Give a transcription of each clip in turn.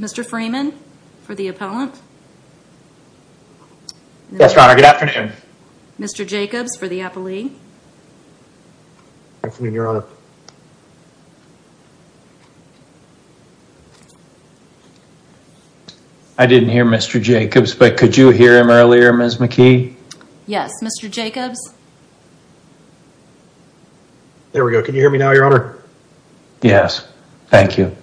Mr. Freeman for the appellant. Yes, your honor. Good afternoon. Mr. Jacobs for the appellee. Afternoon, your honor. I didn't hear Mr. Jacobs, but could you hear him earlier, Ms. McKee? Yes, Mr. Jacobs. There we go. Can you hear me now, your honor? Yes, thank you.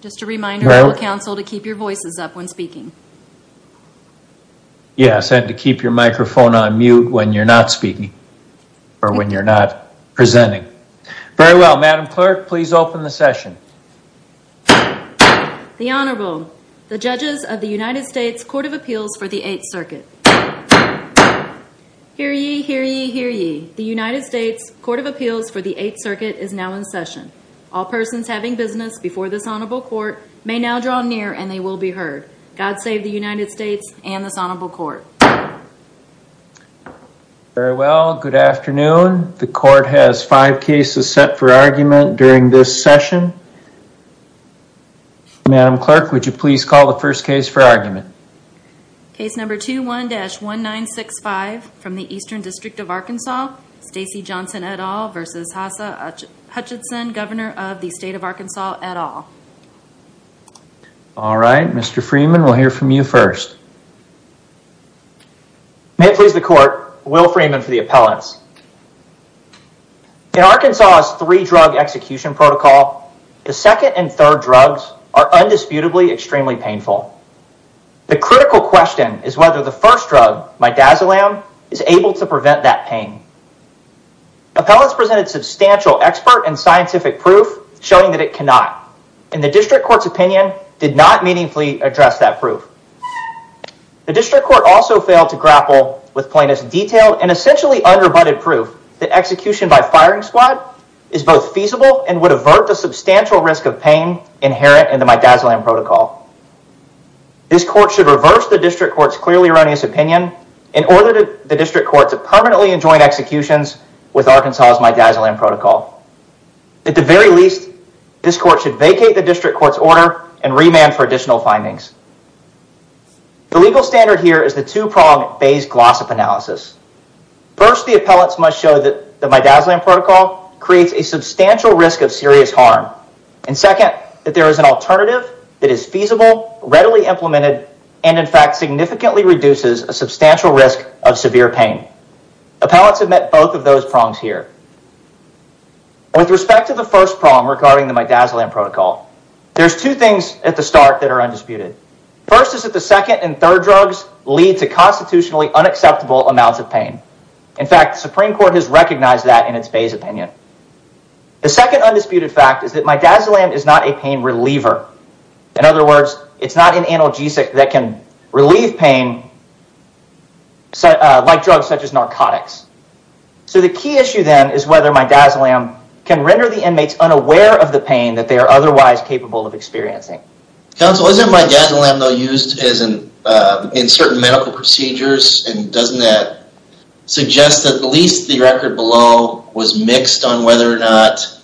Just a reminder to the council to keep your voices up when speaking. Yes, and to keep your microphone on mute when you're not speaking or when you're not presenting. Very well, Madam Clerk, please open the session. The Honorable, the judges of the United States Court of Appeals for the Eighth Circuit. Hear ye, hear ye, hear ye. The United States Court of Appeals for the Eighth Circuit is now in session. All persons having business before this honorable court may now draw near and they will be heard. God save the United States and this honorable court. Very well, good afternoon. The court has five cases set for argument during this session. Madam Clerk, would you please call the first case for argument? Case number 21-1965 from the Eastern District of Arkansas, Stacey Johnson et al versus Hassa Hutchinson, governor of the state of Arkansas et al. All right, Mr. Freeman, we'll hear from you first. May it please the court, Will Freeman for the appellants. In Arkansas's three drug execution protocol, the second and third drugs are undisputably extremely painful. The critical question is whether the first drug, midazolam, is able to prevent that pain. Appellants presented substantial expert and scientific proof showing that it cannot, and the district court's opinion did not meaningfully address that proof. The district court also failed to grapple with plaintiff's detailed and essentially underbunded proof that execution by firing squad is both feasible and would avert the This court should reverse the district court's clearly erroneous opinion and order the district court to permanently enjoin executions with Arkansas's midazolam protocol. At the very least, this court should vacate the district court's order and remand for additional findings. The legal standard here is the two-prong phase glossop analysis. First, the appellants must show that the midazolam protocol creates a substantial risk of readily implemented and in fact significantly reduces a substantial risk of severe pain. Appellants have met both of those prongs here. With respect to the first prong regarding the midazolam protocol, there's two things at the start that are undisputed. First is that the second and third drugs lead to constitutionally unacceptable amounts of pain. In fact, the Supreme Court has recognized that in its Bay's opinion. The second undisputed fact is that midazolam is not a pain reliever. In other words, it's not an analgesic that can relieve pain like drugs such as narcotics. So the key issue then is whether midazolam can render the inmates unaware of the pain that they are otherwise capable of experiencing. Counsel, isn't midazolam though used in certain medical procedures and doesn't that suggest at least the record below was mixed on whether or not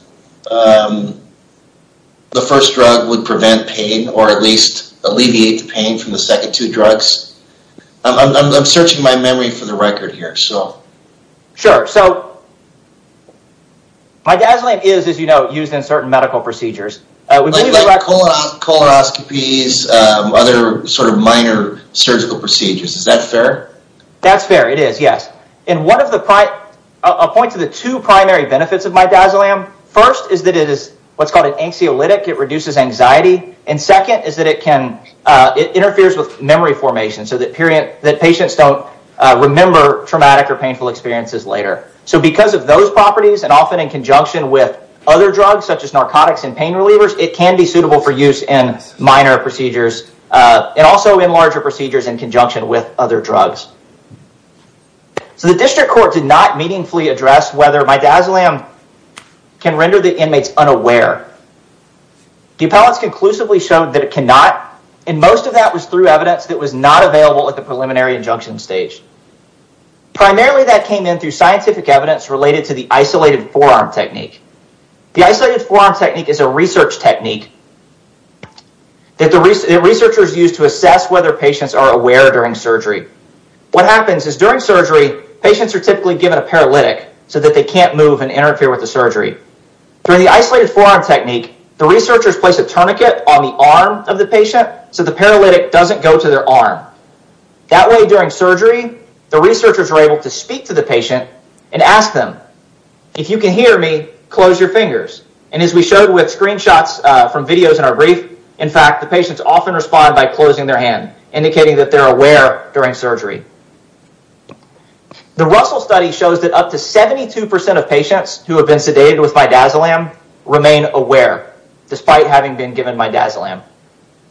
the first drug would prevent pain or at least alleviate the pain from the second two drugs? I'm searching my memory for the record here. Sure, so midazolam is, as you know, used in certain medical procedures. Like coloroscopies, other sort of minor surgical procedures. Is that fair? That's fair, it is, yes. And one of the, I'll point to the two primary benefits of midazolam. First is that it is what's called an anxiolytic. It reduces anxiety. And second is that it can, it interferes with memory formation so that patients don't remember traumatic or painful experiences later. So because of those properties and often in conjunction with other drugs such as narcotics and pain relievers, it can be suitable for use in minor procedures and also in larger procedures in conjunction with other drugs. So the district court did not meaningfully address whether midazolam can render the inmates unaware. The appellants conclusively showed that it cannot and most of that was through evidence that was not available at the preliminary injunction stage. Primarily, that came in through scientific evidence related to the isolated forearm technique. The isolated forearm technique is a research technique that the researchers use to assess whether patients are aware during surgery. What happens is during surgery, patients are typically given a paralytic so that they can't move and interfere with the surgery. During the isolated forearm technique, the researchers place a tourniquet on the arm of the patient so the paralytic doesn't go to their arm. That way during surgery, the researchers are able to speak to the patient and ask them, if you can hear me, close your fingers. And as we showed with screenshots from videos in our brief, in fact, the patients often respond by closing their hand, indicating that they're aware during surgery. The Russell study shows that up to 72% of patients who have been sedated with midazolam remain aware despite having been given midazolam.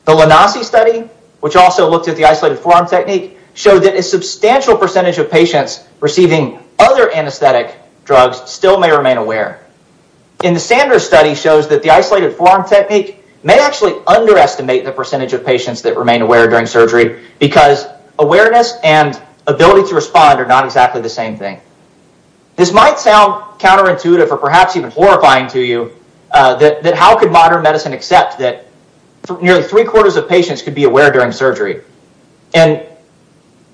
The Lanasi study, which also looked at the isolated forearm technique, showed that a substantial percentage of patients receiving other anesthetic drugs still may remain aware. In the Sanders study shows that the isolated forearm technique may actually underestimate the percentage of patients that remain aware during surgery because awareness and ability to respond are not exactly the same thing. This might sound counterintuitive or perhaps even horrifying to you, that how could modern medicine accept that nearly three quarters of patients could be aware during surgery? And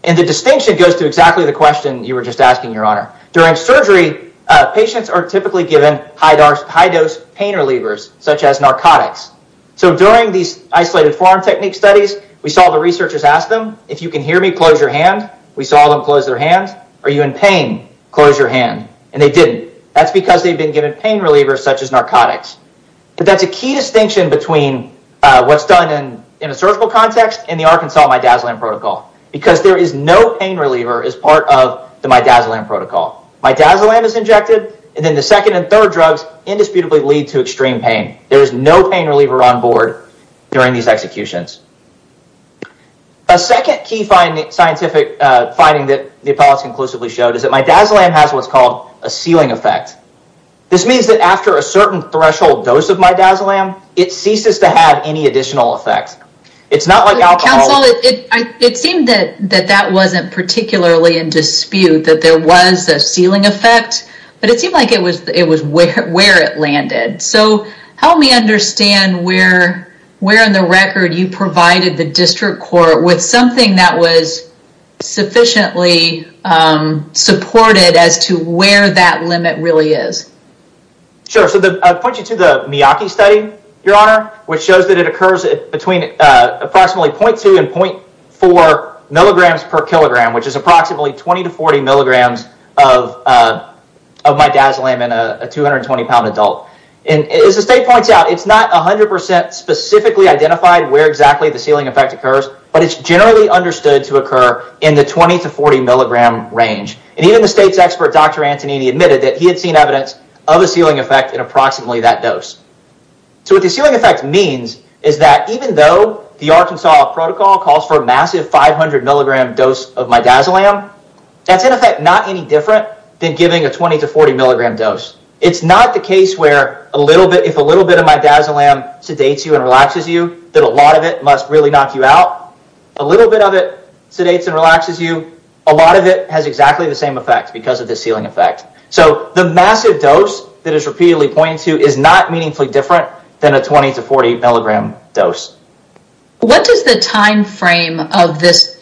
the distinction goes to exactly the question you were just asking, your honor. During surgery, patients are typically given high-dose pain relievers, such as narcotics. So during these isolated forearm technique studies, we saw the researchers ask them, if you can hear me, close your hand. We saw them close their hand. Are you in pain? Close your hand. And they didn't. That's because they've been given pain relievers, such as narcotics. But that's a key distinction between what's done in a surgical context and the Arkansas pain reliever is part of the Midazolam protocol. Midazolam is injected, and then the second and third drugs indisputably lead to extreme pain. There is no pain reliever on board during these executions. A second key scientific finding that the appellate conclusively showed is that Midazolam has what's called a ceiling effect. This means that after a certain threshold dose of Midazolam, it ceases to have any additional effects. It's not like alcohol. It seemed that that wasn't particularly in dispute, that there was a ceiling effect, but it seemed like it was where it landed. So help me understand where in the record you provided the district court with something that was sufficiently supported as to where that limit really is. Sure. So I'll point you to the Miyake study, Your Honor, which shows that it occurs between approximately 0.2 and 0.4 milligrams per kilogram, which is approximately 20 to 40 milligrams of Midazolam in a 220-pound adult. As the state points out, it's not 100% specifically identified where exactly the ceiling effect occurs, but it's generally understood to occur in the 20 to 40 milligram range. Even the state's expert, Dr. Antonini, admitted that he had seen of a ceiling effect in approximately that dose. So what the ceiling effect means is that even though the Arkansas protocol calls for a massive 500 milligram dose of Midazolam, that's in effect not any different than giving a 20 to 40 milligram dose. It's not the case where if a little bit of Midazolam sedates you and relaxes you, that a lot of it must really knock you out. A little bit of it sedates and relaxes you. A lot of it has exactly the same effect because of the ceiling effect. So the massive dose that is repeatedly pointed to is not meaningfully different than a 20 to 40 milligram dose. What does the time frame of this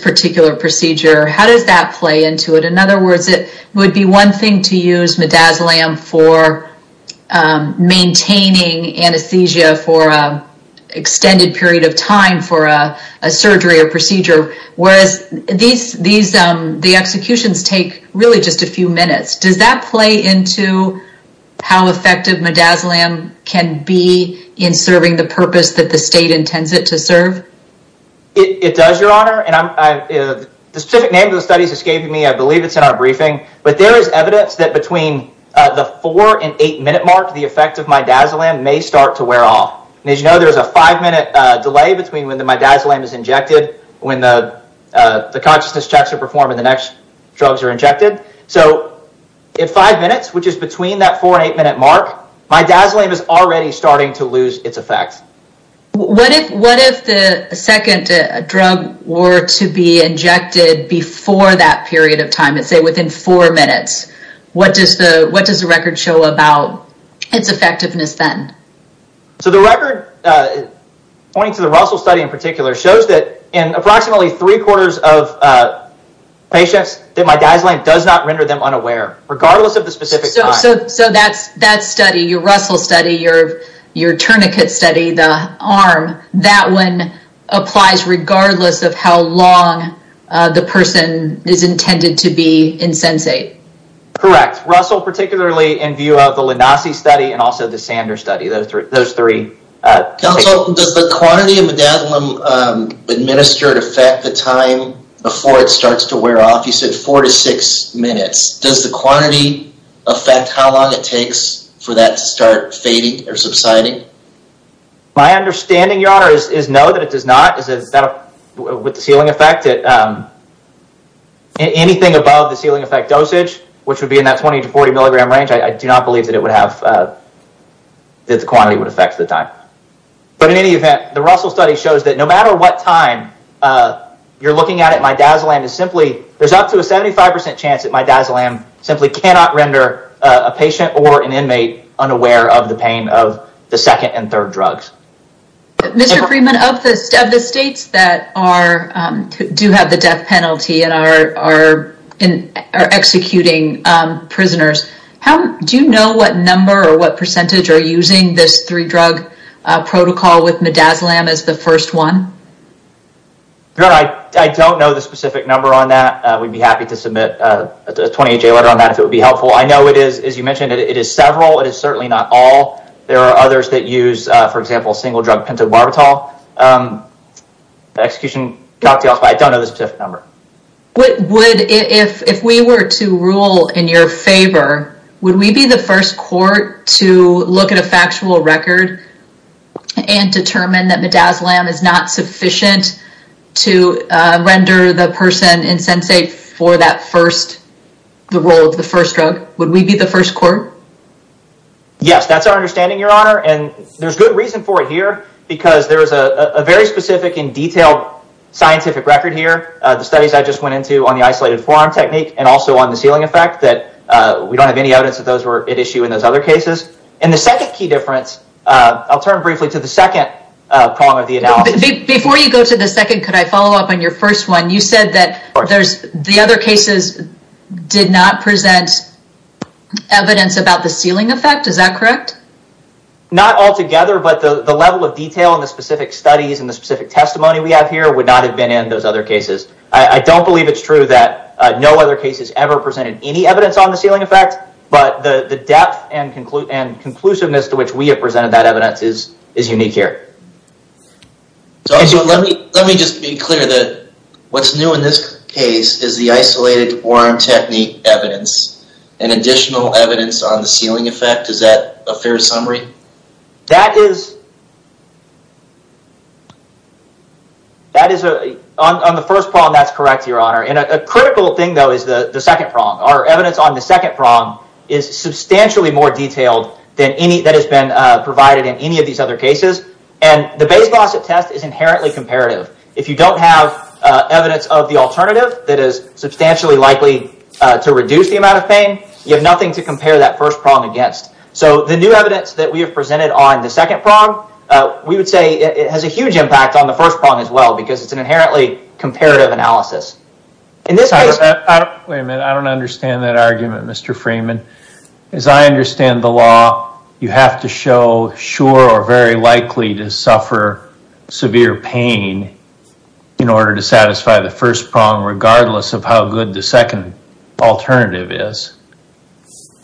particular procedure, how does that play into it? In other words, it would be one thing to use Midazolam for maintaining anesthesia for an extended period of time for a surgery or procedure, whereas these executions take really just a few minutes. Does that play into how effective Midazolam can be in serving the purpose that the state intends it to serve? It does, Your Honor. The specific name of the study is escaping me. I believe it's in our briefing. But there is evidence that between the four and eight minute mark, the effect of Midazolam may start to wear off. And as you know, there's a five minute delay between when the Midazolam is injected, when the consciousness checks are performed, and the next drugs are injected. So in five minutes, which is between that four and eight minute mark, Midazolam is already starting to lose its effect. What if the second drug were to be injected before that period of time, let's say within four minutes? What does the record show about its effectiveness then? So the record, pointing to the Russell study in particular, shows that in approximately three quarters of patients that Midazolam does not render them unaware, regardless of the specific time. So that study, your Russell study, your tourniquet study, the arm, that one applies regardless of how long the person is intended to be insensate. Correct. Russell, particularly in view of the those three. Counsel, does the quantity of Midazolam administered affect the time before it starts to wear off? You said four to six minutes. Does the quantity affect how long it takes for that to start fading or subsiding? My understanding, your honor, is no, that it does not. With the ceiling effect, anything above the ceiling effect dosage, which would be in that 20 to 40 milligram range, I do not believe that the quantity would affect the time. But in any event, the Russell study shows that no matter what time you're looking at it, Midazolam is simply, there's up to a 75% chance that Midazolam simply cannot render a patient or an inmate unaware of the pain of the second and third drugs. Mr. Freeman, of the states that do have the death penalty and are executing prisoners, do you know what number or what percentage are using this three drug protocol with Midazolam as the first one? Your honor, I don't know the specific number on that. We'd be happy to submit a 28-J letter on that if it would be helpful. I know it is, as you mentioned, it is several. It is certainly not all. There are others that use, for example, single drug pentobarbital. The execution, I don't know the specific number. If we were to rule in your favor, would we be the first court to look at a factual record and determine that Midazolam is not sufficient to render the person insensate for the role of the first drug? Would we be the first court? Yes, that's our understanding, your honor. There's good reason for it here because there is a very specific and detailed scientific record here. The studies I just went into on the isolated forearm technique and also on the ceiling effect that we don't have any evidence that those were at issue in those other cases. The second key difference, I'll turn briefly to the second problem of the analysis. Before you go to the second, could I follow up on your first one? You said that the other cases did not present evidence about the ceiling effect. Is that correct? Not altogether, but the level of detail and the specific studies and the specific testimony we have here would not have been in those other cases. I don't believe it's true that no other cases ever presented any evidence on the ceiling effect, but the depth and conclusiveness to which we have presented that evidence is unique here. Let me just be clear that what's new in this case is the isolated forearm technique evidence and additional evidence on the ceiling effect. Is that a fair summary? On the first problem, that's correct, your honor. A critical thing, though, is the second problem. Our evidence on the second problem is substantially more detailed than any that has been provided in any of these other cases. The Bayes Gossip Test is inherently comparative. If you don't have evidence of the alternative that is substantially likely to reduce the amount of pain, you have nothing to compare that first problem against. The new evidence that we have presented on the second problem, we would say it has a huge impact on the first problem as well because it's an inherently comparative analysis. Wait a minute, I don't understand that argument, Mr. Freeman. As I understand the law, you have to show sure or very likely to suffer severe pain in order to satisfy the first prong regardless of how good the second alternative is.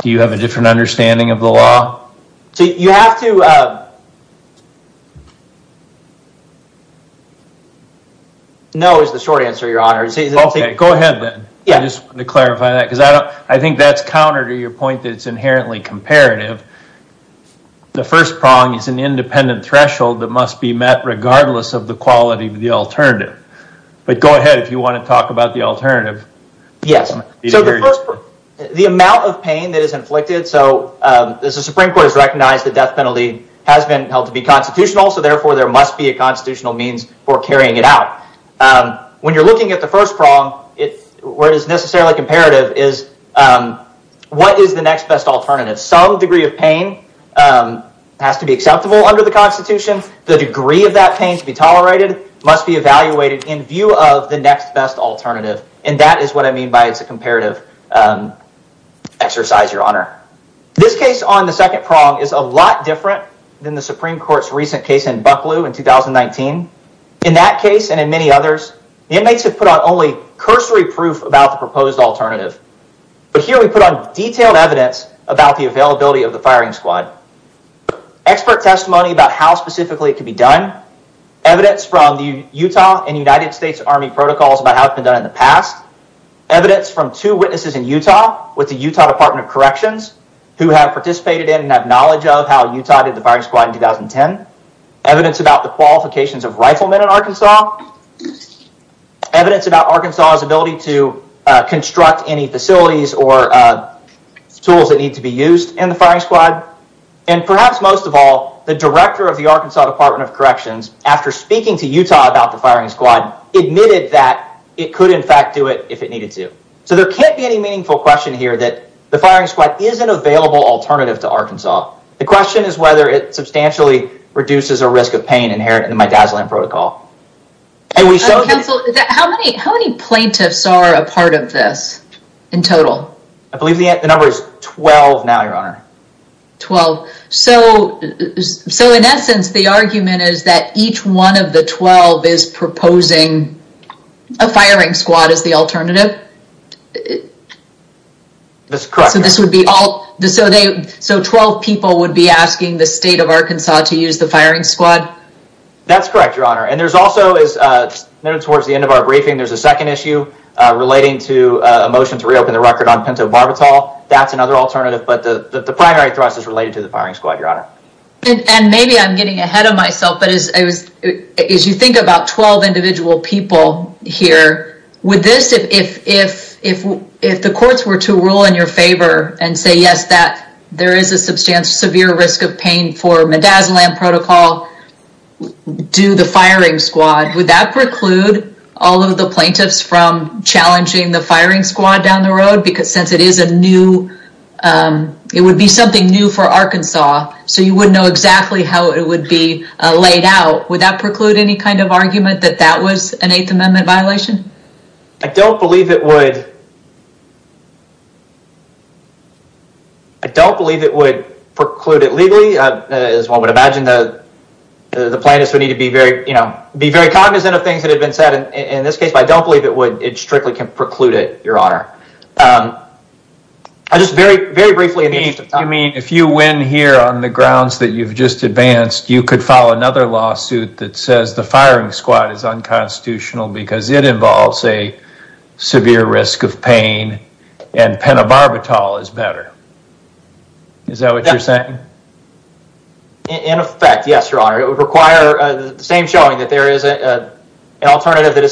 Do you have a different understanding of the law? No is the short answer, your honor. Okay, go ahead then. I just want to clarify that because I think that's counter to your point that it's inherently comparative. The first prong is an independent threshold that regardless of the quality of the alternative, but go ahead if you want to talk about the alternative. Yes, so the amount of pain that is inflicted, so as the Supreme Court has recognized the death penalty has been held to be constitutional, so therefore there must be a constitutional means for carrying it out. When you're looking at the first prong, where it is necessarily comparative is what is the next best alternative? Some degree of pain has to be acceptable under the constitution. The degree of that pain to be tolerated must be evaluated in view of the next best alternative, and that is what I mean by it's a comparative exercise, your honor. This case on the second prong is a lot different than the Supreme Court's recent case in Bucklew in 2019. In that case and in many others, the inmates have put on only cursory proof about the proposed alternative, but here we put on detailed evidence about the availability of the firing squad. Expert testimony about how specifically it can be done, evidence from the Utah and United States Army protocols about how it's been done in the past, evidence from two witnesses in Utah with the Utah Department of Corrections who have participated in and have knowledge of how Utah did the firing squad in 2010, evidence about the qualifications of riflemen in Arkansas, evidence about Arkansas's ability to construct any facilities or tools that need to be used in firing squad, and perhaps most of all, the director of the Arkansas Department of Corrections after speaking to Utah about the firing squad admitted that it could in fact do it if it needed to. So there can't be any meaningful question here that the firing squad is an available alternative to Arkansas. The question is whether it substantially reduces a risk of pain inherent in the Midazolam Protocol. How many plaintiffs are a part of this in total? I believe the number is 12 now, your honor. 12. So in essence, the argument is that each one of the 12 is proposing a firing squad as the alternative? That's correct. So 12 people would be asking the state of Arkansas to use the firing squad? That's correct, your honor. And there's also, as noted towards the end of our briefing, there's a second issue relating to a that's another alternative, but the primary thrust is related to the firing squad, your honor. And maybe I'm getting ahead of myself, but as you think about 12 individual people here, would this, if the courts were to rule in your favor and say, yes, that there is a substantial severe risk of pain for Midazolam Protocol, do the firing squad, would that it is a new, it would be something new for Arkansas. So you wouldn't know exactly how it would be laid out. Would that preclude any kind of argument that that was an 8th Amendment violation? I don't believe it would. I don't believe it would preclude it legally as one would imagine that the plaintiffs would need to be very, you know, be very cognizant of things that had been said in this case, but I don't believe it would, it strictly can preclude it, your honor. I just very, very briefly. You mean if you win here on the grounds that you've just advanced, you could file another lawsuit that says the firing squad is unconstitutional because it involves a severe risk of pain and pentobarbital is better. Is that what you're saying? In effect, yes, your honor, it would require the same showing that there is an alternative that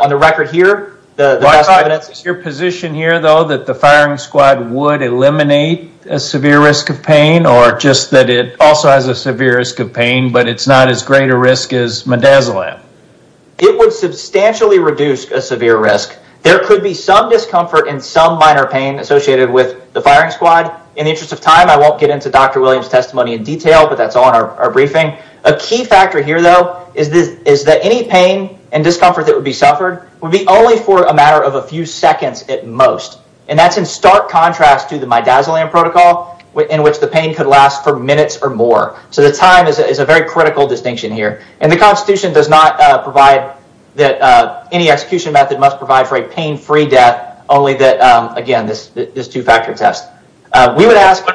on the record here, your position here, though, that the firing squad would eliminate a severe risk of pain or just that it also has a severe risk of pain, but it's not as great a risk as midazolam. It would substantially reduce a severe risk. There could be some discomfort in some minor pain associated with the firing squad. In the interest of time, I won't get into Dr. Williams' testimony in detail, but that's on our briefing. A key factor here, though, is that any pain and discomfort that would be suffered would be only for a matter of a few seconds at most, and that's in stark contrast to the midazolam protocol in which the pain could last for minutes or more. The time is a very critical distinction here. The Constitution does not provide that any execution method must provide for a pain-free death, only that, again, this two-factor test. We would ask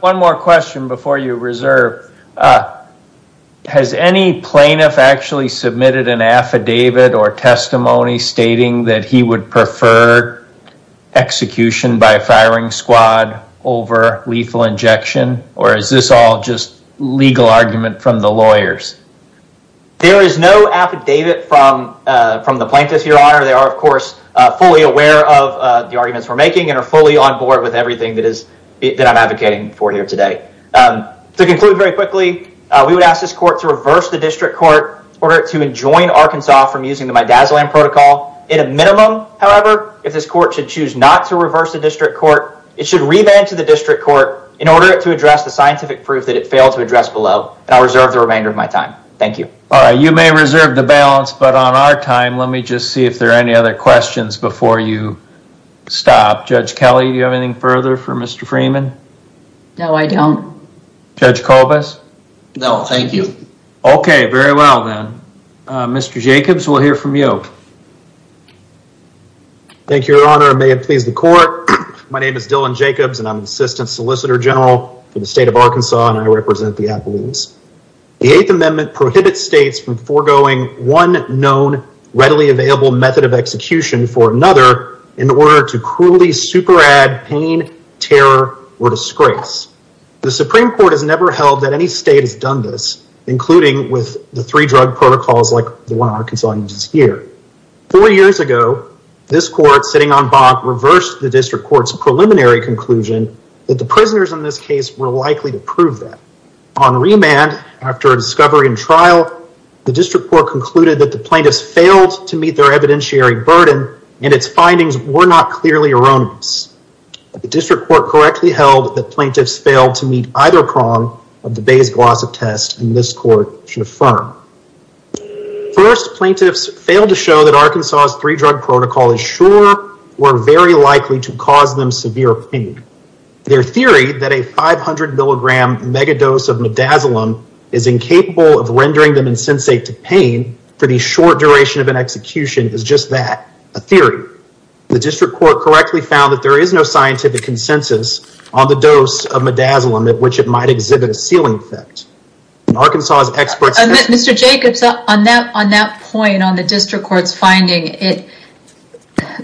one more question before you reserve. Has any plaintiff actually submitted an affidavit or testimony stating that he would prefer execution by a firing squad over lethal injection, or is this all just legal argument from the lawyers? There is no affidavit from the plaintiffs, your honor. They are, of course, fully aware of the arguments we're making and are fully on board with everything that I'm advocating for here today. To conclude very quickly, we would ask this court to reverse the district court order to enjoin Arkansas from using the midazolam protocol. In a minimum, however, if this court should choose not to reverse the district court, it should revent to the district court in order to address the scientific proof that it failed to address below, and I'll reserve the remainder of my time. Thank you. All right, you may reserve the balance, but on our time, let me just see if there are any other questions before you stop. Judge Kelly, do you have anything further for Mr. Freeman? No, I don't. Judge Culbis? No, thank you. Okay, very well then. Mr. Jacobs, we'll hear from you. Thank you, your honor. May it please the court. My name is Dylan Jacobs, and I'm an assistant solicitor general for the state of Arkansas, and I represent the Appalachians. The eighth amendment prohibits states from foregoing one known readily available method of execution for another in order to cruelly super add pain, terror, or disgrace. The Supreme Court has never held that any state has done this, including with the three drug protocols like the one Arkansas uses here. Four years ago, this court sitting on bond reversed the district court's preliminary conclusion that the prisoners in this case were likely to prove that. On remand, after a discovery in trial, the district court concluded that the plaintiffs failed to meet their evidentiary burden, and its findings were not clearly erroneous. The district court correctly held that plaintiffs failed to meet either prong of the Bayes-Glossop test, and this court should affirm. First, plaintiffs failed to show that Arkansas's three drug protocol is sure or very likely to cause them severe pain. Their theory that a 500 milligram megadose of midazolam is incapable of causing pain is a theory. The district court correctly found that there is no scientific consensus on the dose of midazolam at which it might exhibit a sealing effect. Mr. Jacobs, on that point on the district court's finding,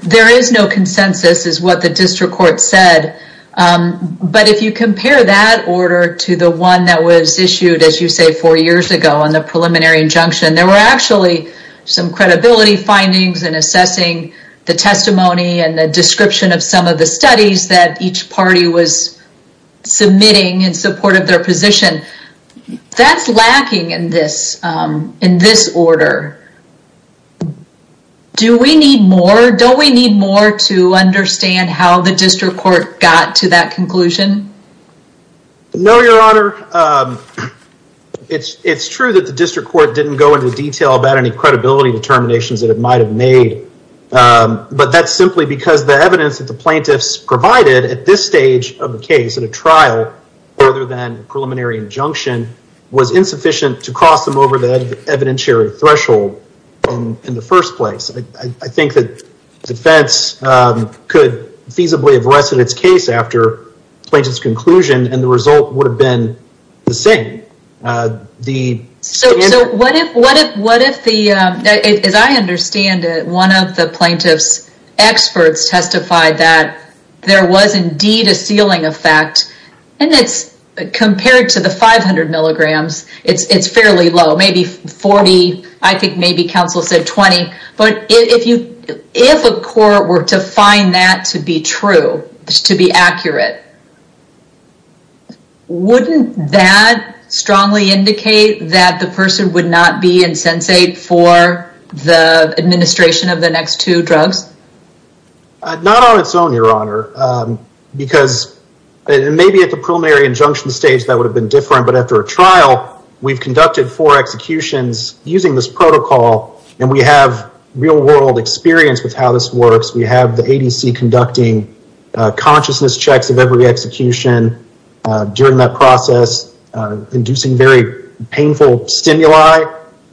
there is no consensus is what the district court said. But if you compare that order to the one that was issued, as you say, four years ago on the preliminary injunction, there were actually some credibility findings in assessing the testimony and the description of some of the studies that each party was submitting in support of their position. That's lacking in this order. Do we need more? Don't we need more to understand how the district court got to that conclusion? No, Your Honor. It's true that the district court didn't go into detail about any credibility determinations that it might have made. But that's simply because the evidence that the plaintiffs provided at this stage of the case in a trial other than preliminary injunction was insufficient to cross them over the evidentiary threshold in the first place. I think that defense could feasibly have rested its case after plaintiff's conclusion and the result would have been the same. As I understand it, one of the plaintiff's experts testified that there was indeed a ceiling effect. Compared to the 500 milligrams, it's fairly low, maybe 40. I think maybe counsel said 20. But if a court were to find that to be true, to be accurate, wouldn't that strongly indicate that the person would not be insensate for the administration of the next two drugs? Not on its own, Your Honor, because maybe at the preliminary injunction stage that would have been different. But after a trial, we've conducted four executions using this protocol and we have real world experience with how this works. We have the ADC conducting consciousness checks of every execution during that process, inducing very painful stimuli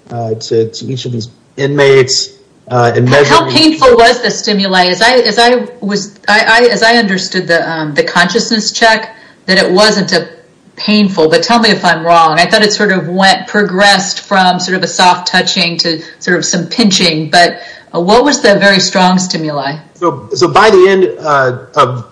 to each of these inmates. How painful was the stimuli? As I understood the consciousness check, that it wasn't painful. But tell me if I'm wrong. I thought it sort of went, progressed from sort of a soft touching to sort of some pinching. But what was the very strong stimuli? So by the end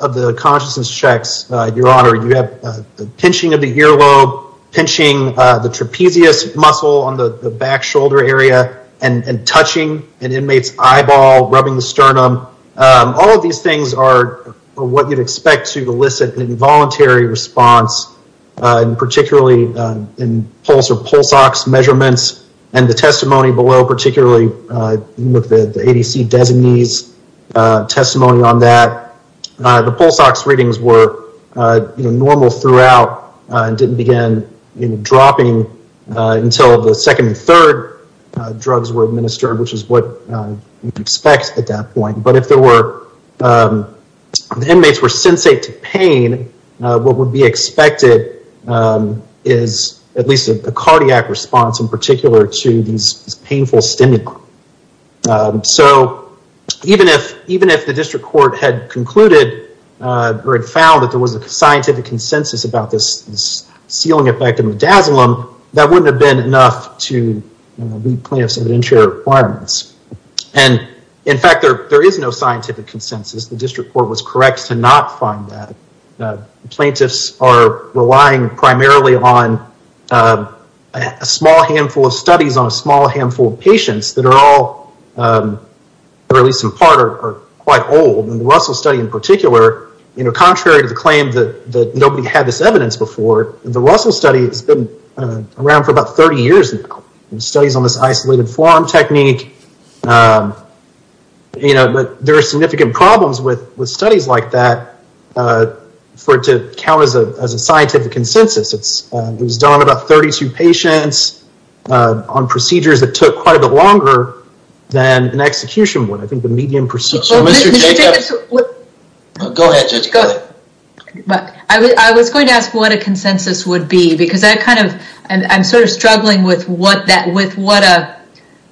of the consciousness checks, Your Honor, you have the pinching of the earlobe, pinching the trapezius muscle on the back shoulder area, and touching an inmate's eyeball, rubbing the sternum. All of these things are what you'd expect to elicit an involuntary response. And particularly in pulse ox measurements and the testimony below, particularly with the ADC designee's testimony on that, the pulse ox readings were normal throughout and didn't begin dropping until the second and third drugs were administered, which is what you'd expect at that point. But if cardiac response, in particular, to these painful stimuli. So even if the district court had concluded or had found that there was a scientific consensus about this ceiling effect and the dazzling, that wouldn't have been enough to leave plaintiff's evidentiary requirements. And in fact, there is no scientific consensus. The district court was correct to not find that. Plaintiffs are relying primarily on a small handful of studies on a small handful of patients that are all, or at least in part, are quite old. And the Russell study in particular, contrary to the claim that nobody had this evidence before, the Russell study has been around for about 30 years now. Studies on this isolated form technique. But there are significant problems with studies like that for it to count as a scientific consensus. It was done on about 32 patients on procedures that took quite a bit longer than an execution would. I think the median procedure... Go ahead, Judge. Go ahead. I was going to ask what a consensus would be, because I'm sort of struggling with what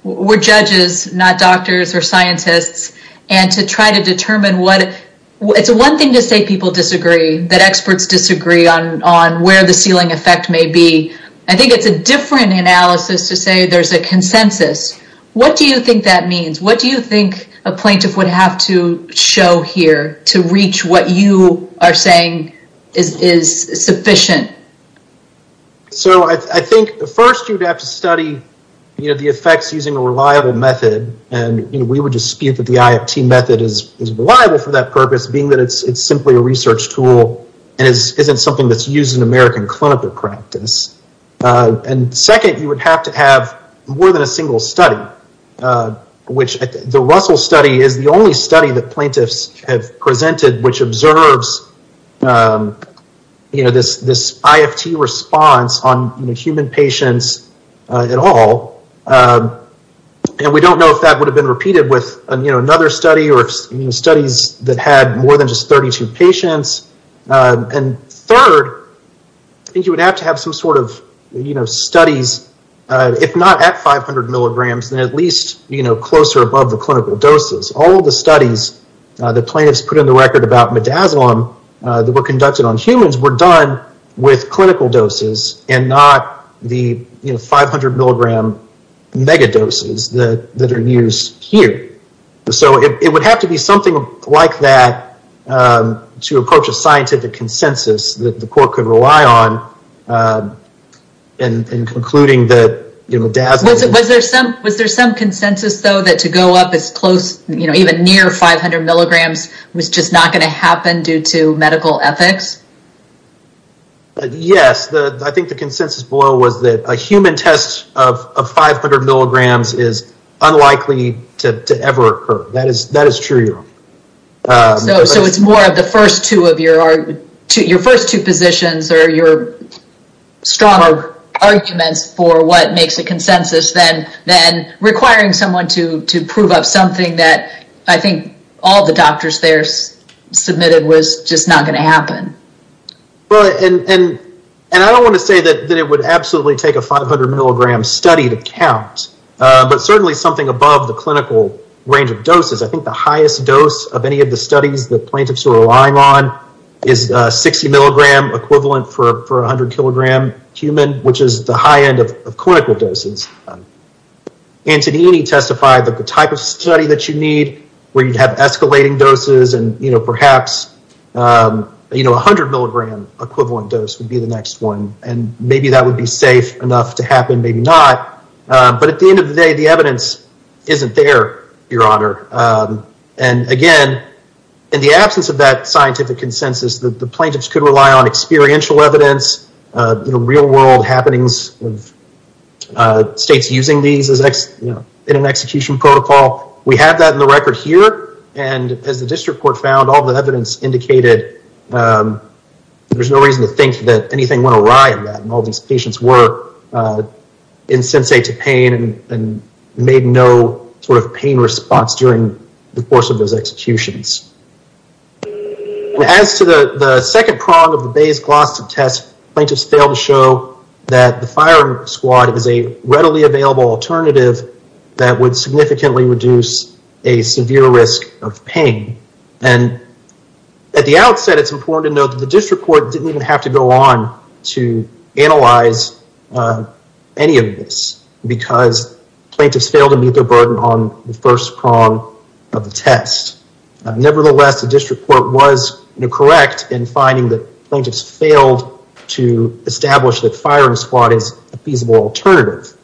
were judges, not doctors or scientists, and to try to determine what... It's one thing to say people disagree, that experts disagree on where the ceiling effect may be. I think it's a different analysis to say there's a consensus. What do you think that means? What do you think a plaintiff would have to show here to reach what you are saying is sufficient? So I think first you'd have to study the effects using a reliable method. And we would dispute the IFT method is reliable for that purpose, being that it's simply a research tool and isn't something that's used in American clinical practice. And second, you would have to have more than a single study, which the Russell study is the only study that plaintiffs have presented which observes this IFT response on human patients at all. And we don't know if that would have been repeated with another study or studies that had more than just 32 patients. And third, I think you would have to have some sort of studies, if not at 500 milligrams, then at least closer above the clinical doses. All of the studies that plaintiffs put in the record about midazolam that were conducted on humans were done with clinical doses and not the 500 milligram mega doses that are used here. So it would have to be something like that to approach a scientific consensus that the court could rely on in concluding that midazolam... Was there some consensus though that to go up as close, you know, even near 500 milligrams was just not going to happen due to medical ethics? Yes, I think the consensus below was that a human test of 500 milligrams is unlikely to ever occur. That is true. So it's more of your first two positions or your stronger arguments for what makes a consensus than requiring someone to prove up something that I think all the doctors there submitted was just not going to happen. Well, and I don't want to say that it would absolutely take a 500 milligram study to count, but certainly something above the clinical range of doses. I think the highest dose of any of the studies that plaintiffs are relying on is 60 milligram equivalent for 100 kilogram human, which is the high end of clinical doses. Antonini testified that the type of study that you need to have escalating doses and, you know, perhaps, you know, 100 milligram equivalent dose would be the next one. And maybe that would be safe enough to happen, maybe not. But at the end of the day, the evidence isn't there, Your Honor. And again, in the absence of that scientific consensus, the plaintiffs could rely on experiential evidence, you know, real world happenings of using these as, you know, in an execution protocol. We have that in the record here. And as the district court found all the evidence indicated, there's no reason to think that anything went awry in that. And all these patients were insensate to pain and made no sort of pain response during the course of those executions. As to the second prong of the Bayes test, plaintiffs failed to show that the firing squad is a readily available alternative that would significantly reduce a severe risk of pain. And at the outset, it's important to note that the district court didn't even have to go on to analyze any of this because plaintiffs failed to meet their burden on the first prong of the test. Nevertheless, the district court was correct in finding that plaintiffs failed to establish that firing squad is a feasible alternative.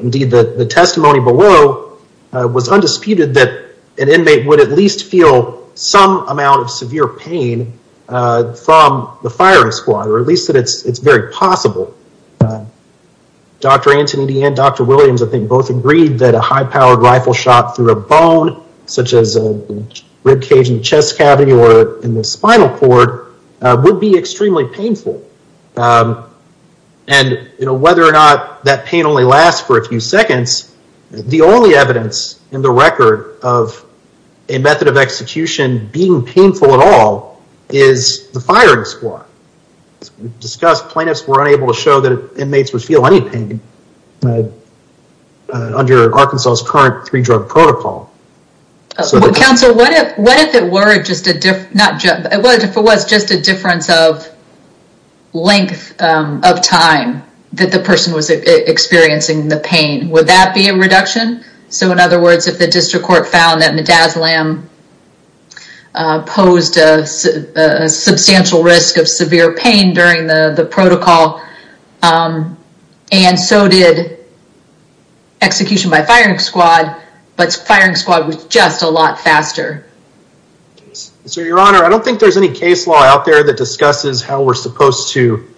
Indeed, the testimony below was undisputed that an inmate would at least feel some amount of severe pain from the firing squad, or at least that it's very possible. Dr. Antonini and Dr. Williams, I think, both agreed that a high-powered rifle shot through a bone, such as a rib cage in the spinal cord, would be extremely painful. And whether or not that pain only lasts for a few seconds, the only evidence in the record of a method of execution being painful at all is the firing squad. As we've discussed, plaintiffs were unable to show that inmates would feel any pain under Arkansas' current three-drug protocol. Counsel, what if it was just a difference of length of time that the person was experiencing the pain? Would that be a reduction? So, in other words, if the district court found that Mdaz-Lam posed a substantial risk of severe pain during the protocol, and so did execution by firing squad, but firing squad was just a lot faster. So, Your Honor, I don't think there's any case law out there that discusses how we're supposed to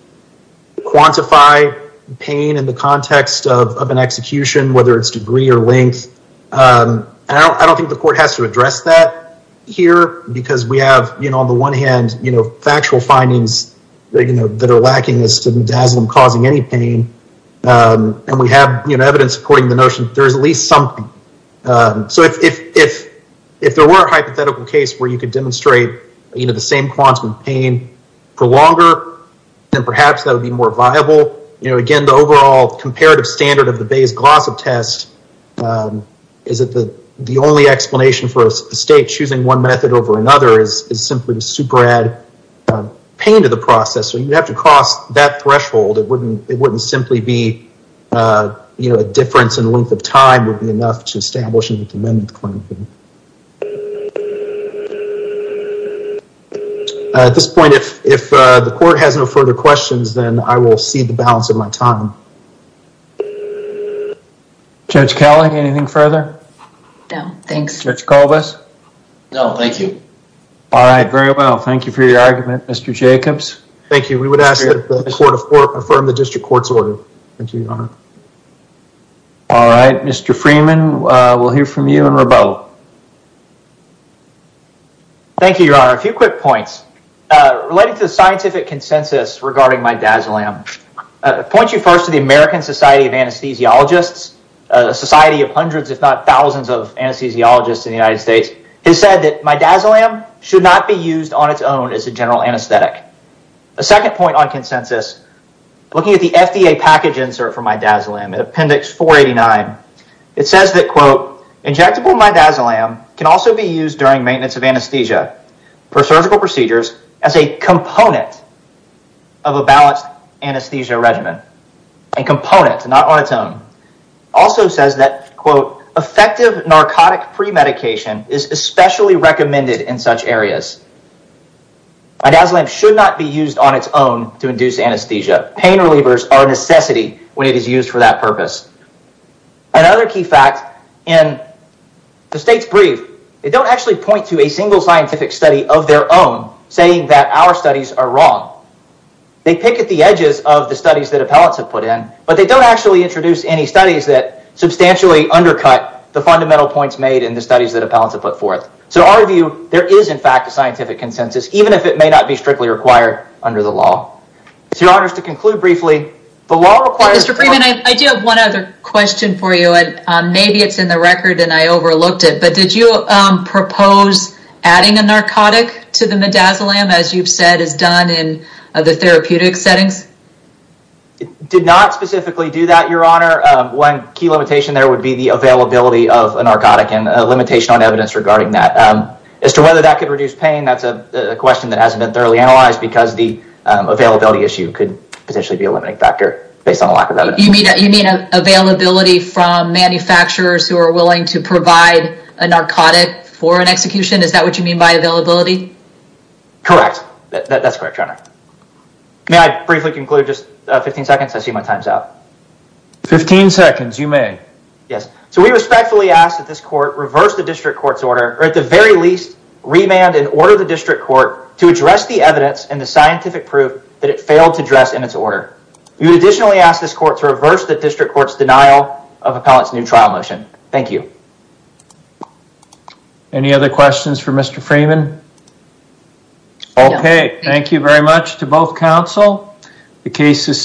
quantify pain in the context of an execution, whether it's degree or length. And I don't think the court has to address that here, because we have, you know, on the one hand, you know, factual findings that are lacking as to Mdaz-Lam causing any pain. And we have, evidence supporting the notion that there's at least something. So, if there were a hypothetical case where you could demonstrate, you know, the same quantum of pain for longer, then perhaps that would be more viable. You know, again, the overall comparative standard of the Bayes-Glossop test is that the only explanation for a state choosing one method over another is simply to super add pain to the process. So, you have to cross that threshold. It wouldn't simply be, you know, a difference in length of time would be enough to establish an amendment claim. At this point, if the court has no further questions, then I will see the balance of my time. Judge Kelley, anything further? No, thanks. Judge Colvis? No, thank you. All right, very well. Thank you for your argument, Mr. Jacobs. Thank you. We would ask that the Court of Court affirm the argument. All right, Mr. Freeman, we'll hear from you and Rebeau. Thank you, Your Honor. A few quick points. Related to the scientific consensus regarding Midazolam. I point you first to the American Society of Anesthesiologists, a society of hundreds, if not thousands of anesthesiologists in the United States, has said that Midazolam should not be used on its own as a general anesthetic. A second point on consensus, looking at the FDA package insert for Midazolam, Appendix 489, it says that, quote, injectable Midazolam can also be used during maintenance of anesthesia for surgical procedures as a component of a balanced anesthesia regimen. A component, not on its own. Also says that, quote, effective narcotic premedication is especially recommended in such areas. Midazolam should not be used on its own to induce anesthesia. Pain relievers are a necessity when it is used for that purpose. Another key fact, in the state's brief, they don't actually point to a single scientific study of their own saying that our studies are wrong. They pick at the edges of the studies that appellants have put in, but they don't actually introduce any studies that substantially undercut the fundamental points made in the studies that there is, in fact, a scientific consensus, even if it may not be strictly required under the law. So, your honors, to conclude briefly, the law requires... Mr. Freeman, I do have one other question for you, and maybe it's in the record and I overlooked it, but did you propose adding a narcotic to the Midazolam, as you've said is done in the therapeutic settings? It did not specifically do that, your honor. One key limitation there would be the availability of that. Whether that could reduce pain, that's a question that hasn't been thoroughly analyzed because the availability issue could potentially be a limiting factor based on the lack of evidence. You mean availability from manufacturers who are willing to provide a narcotic for an execution? Is that what you mean by availability? Correct. That's correct, your honor. May I briefly conclude? Just 15 seconds. I see my time's up. 15 seconds. You may. Yes. So, we respectfully ask that this court reverse the district court's order, or at the very least, remand and order the district court to address the evidence and the scientific proof that it failed to address in its order. We would additionally ask this court to reverse the district court's denial of appellant's new trial motion. Thank you. Any other questions for Mr. Freeman? Okay, thank you very much to both counsel. The case is...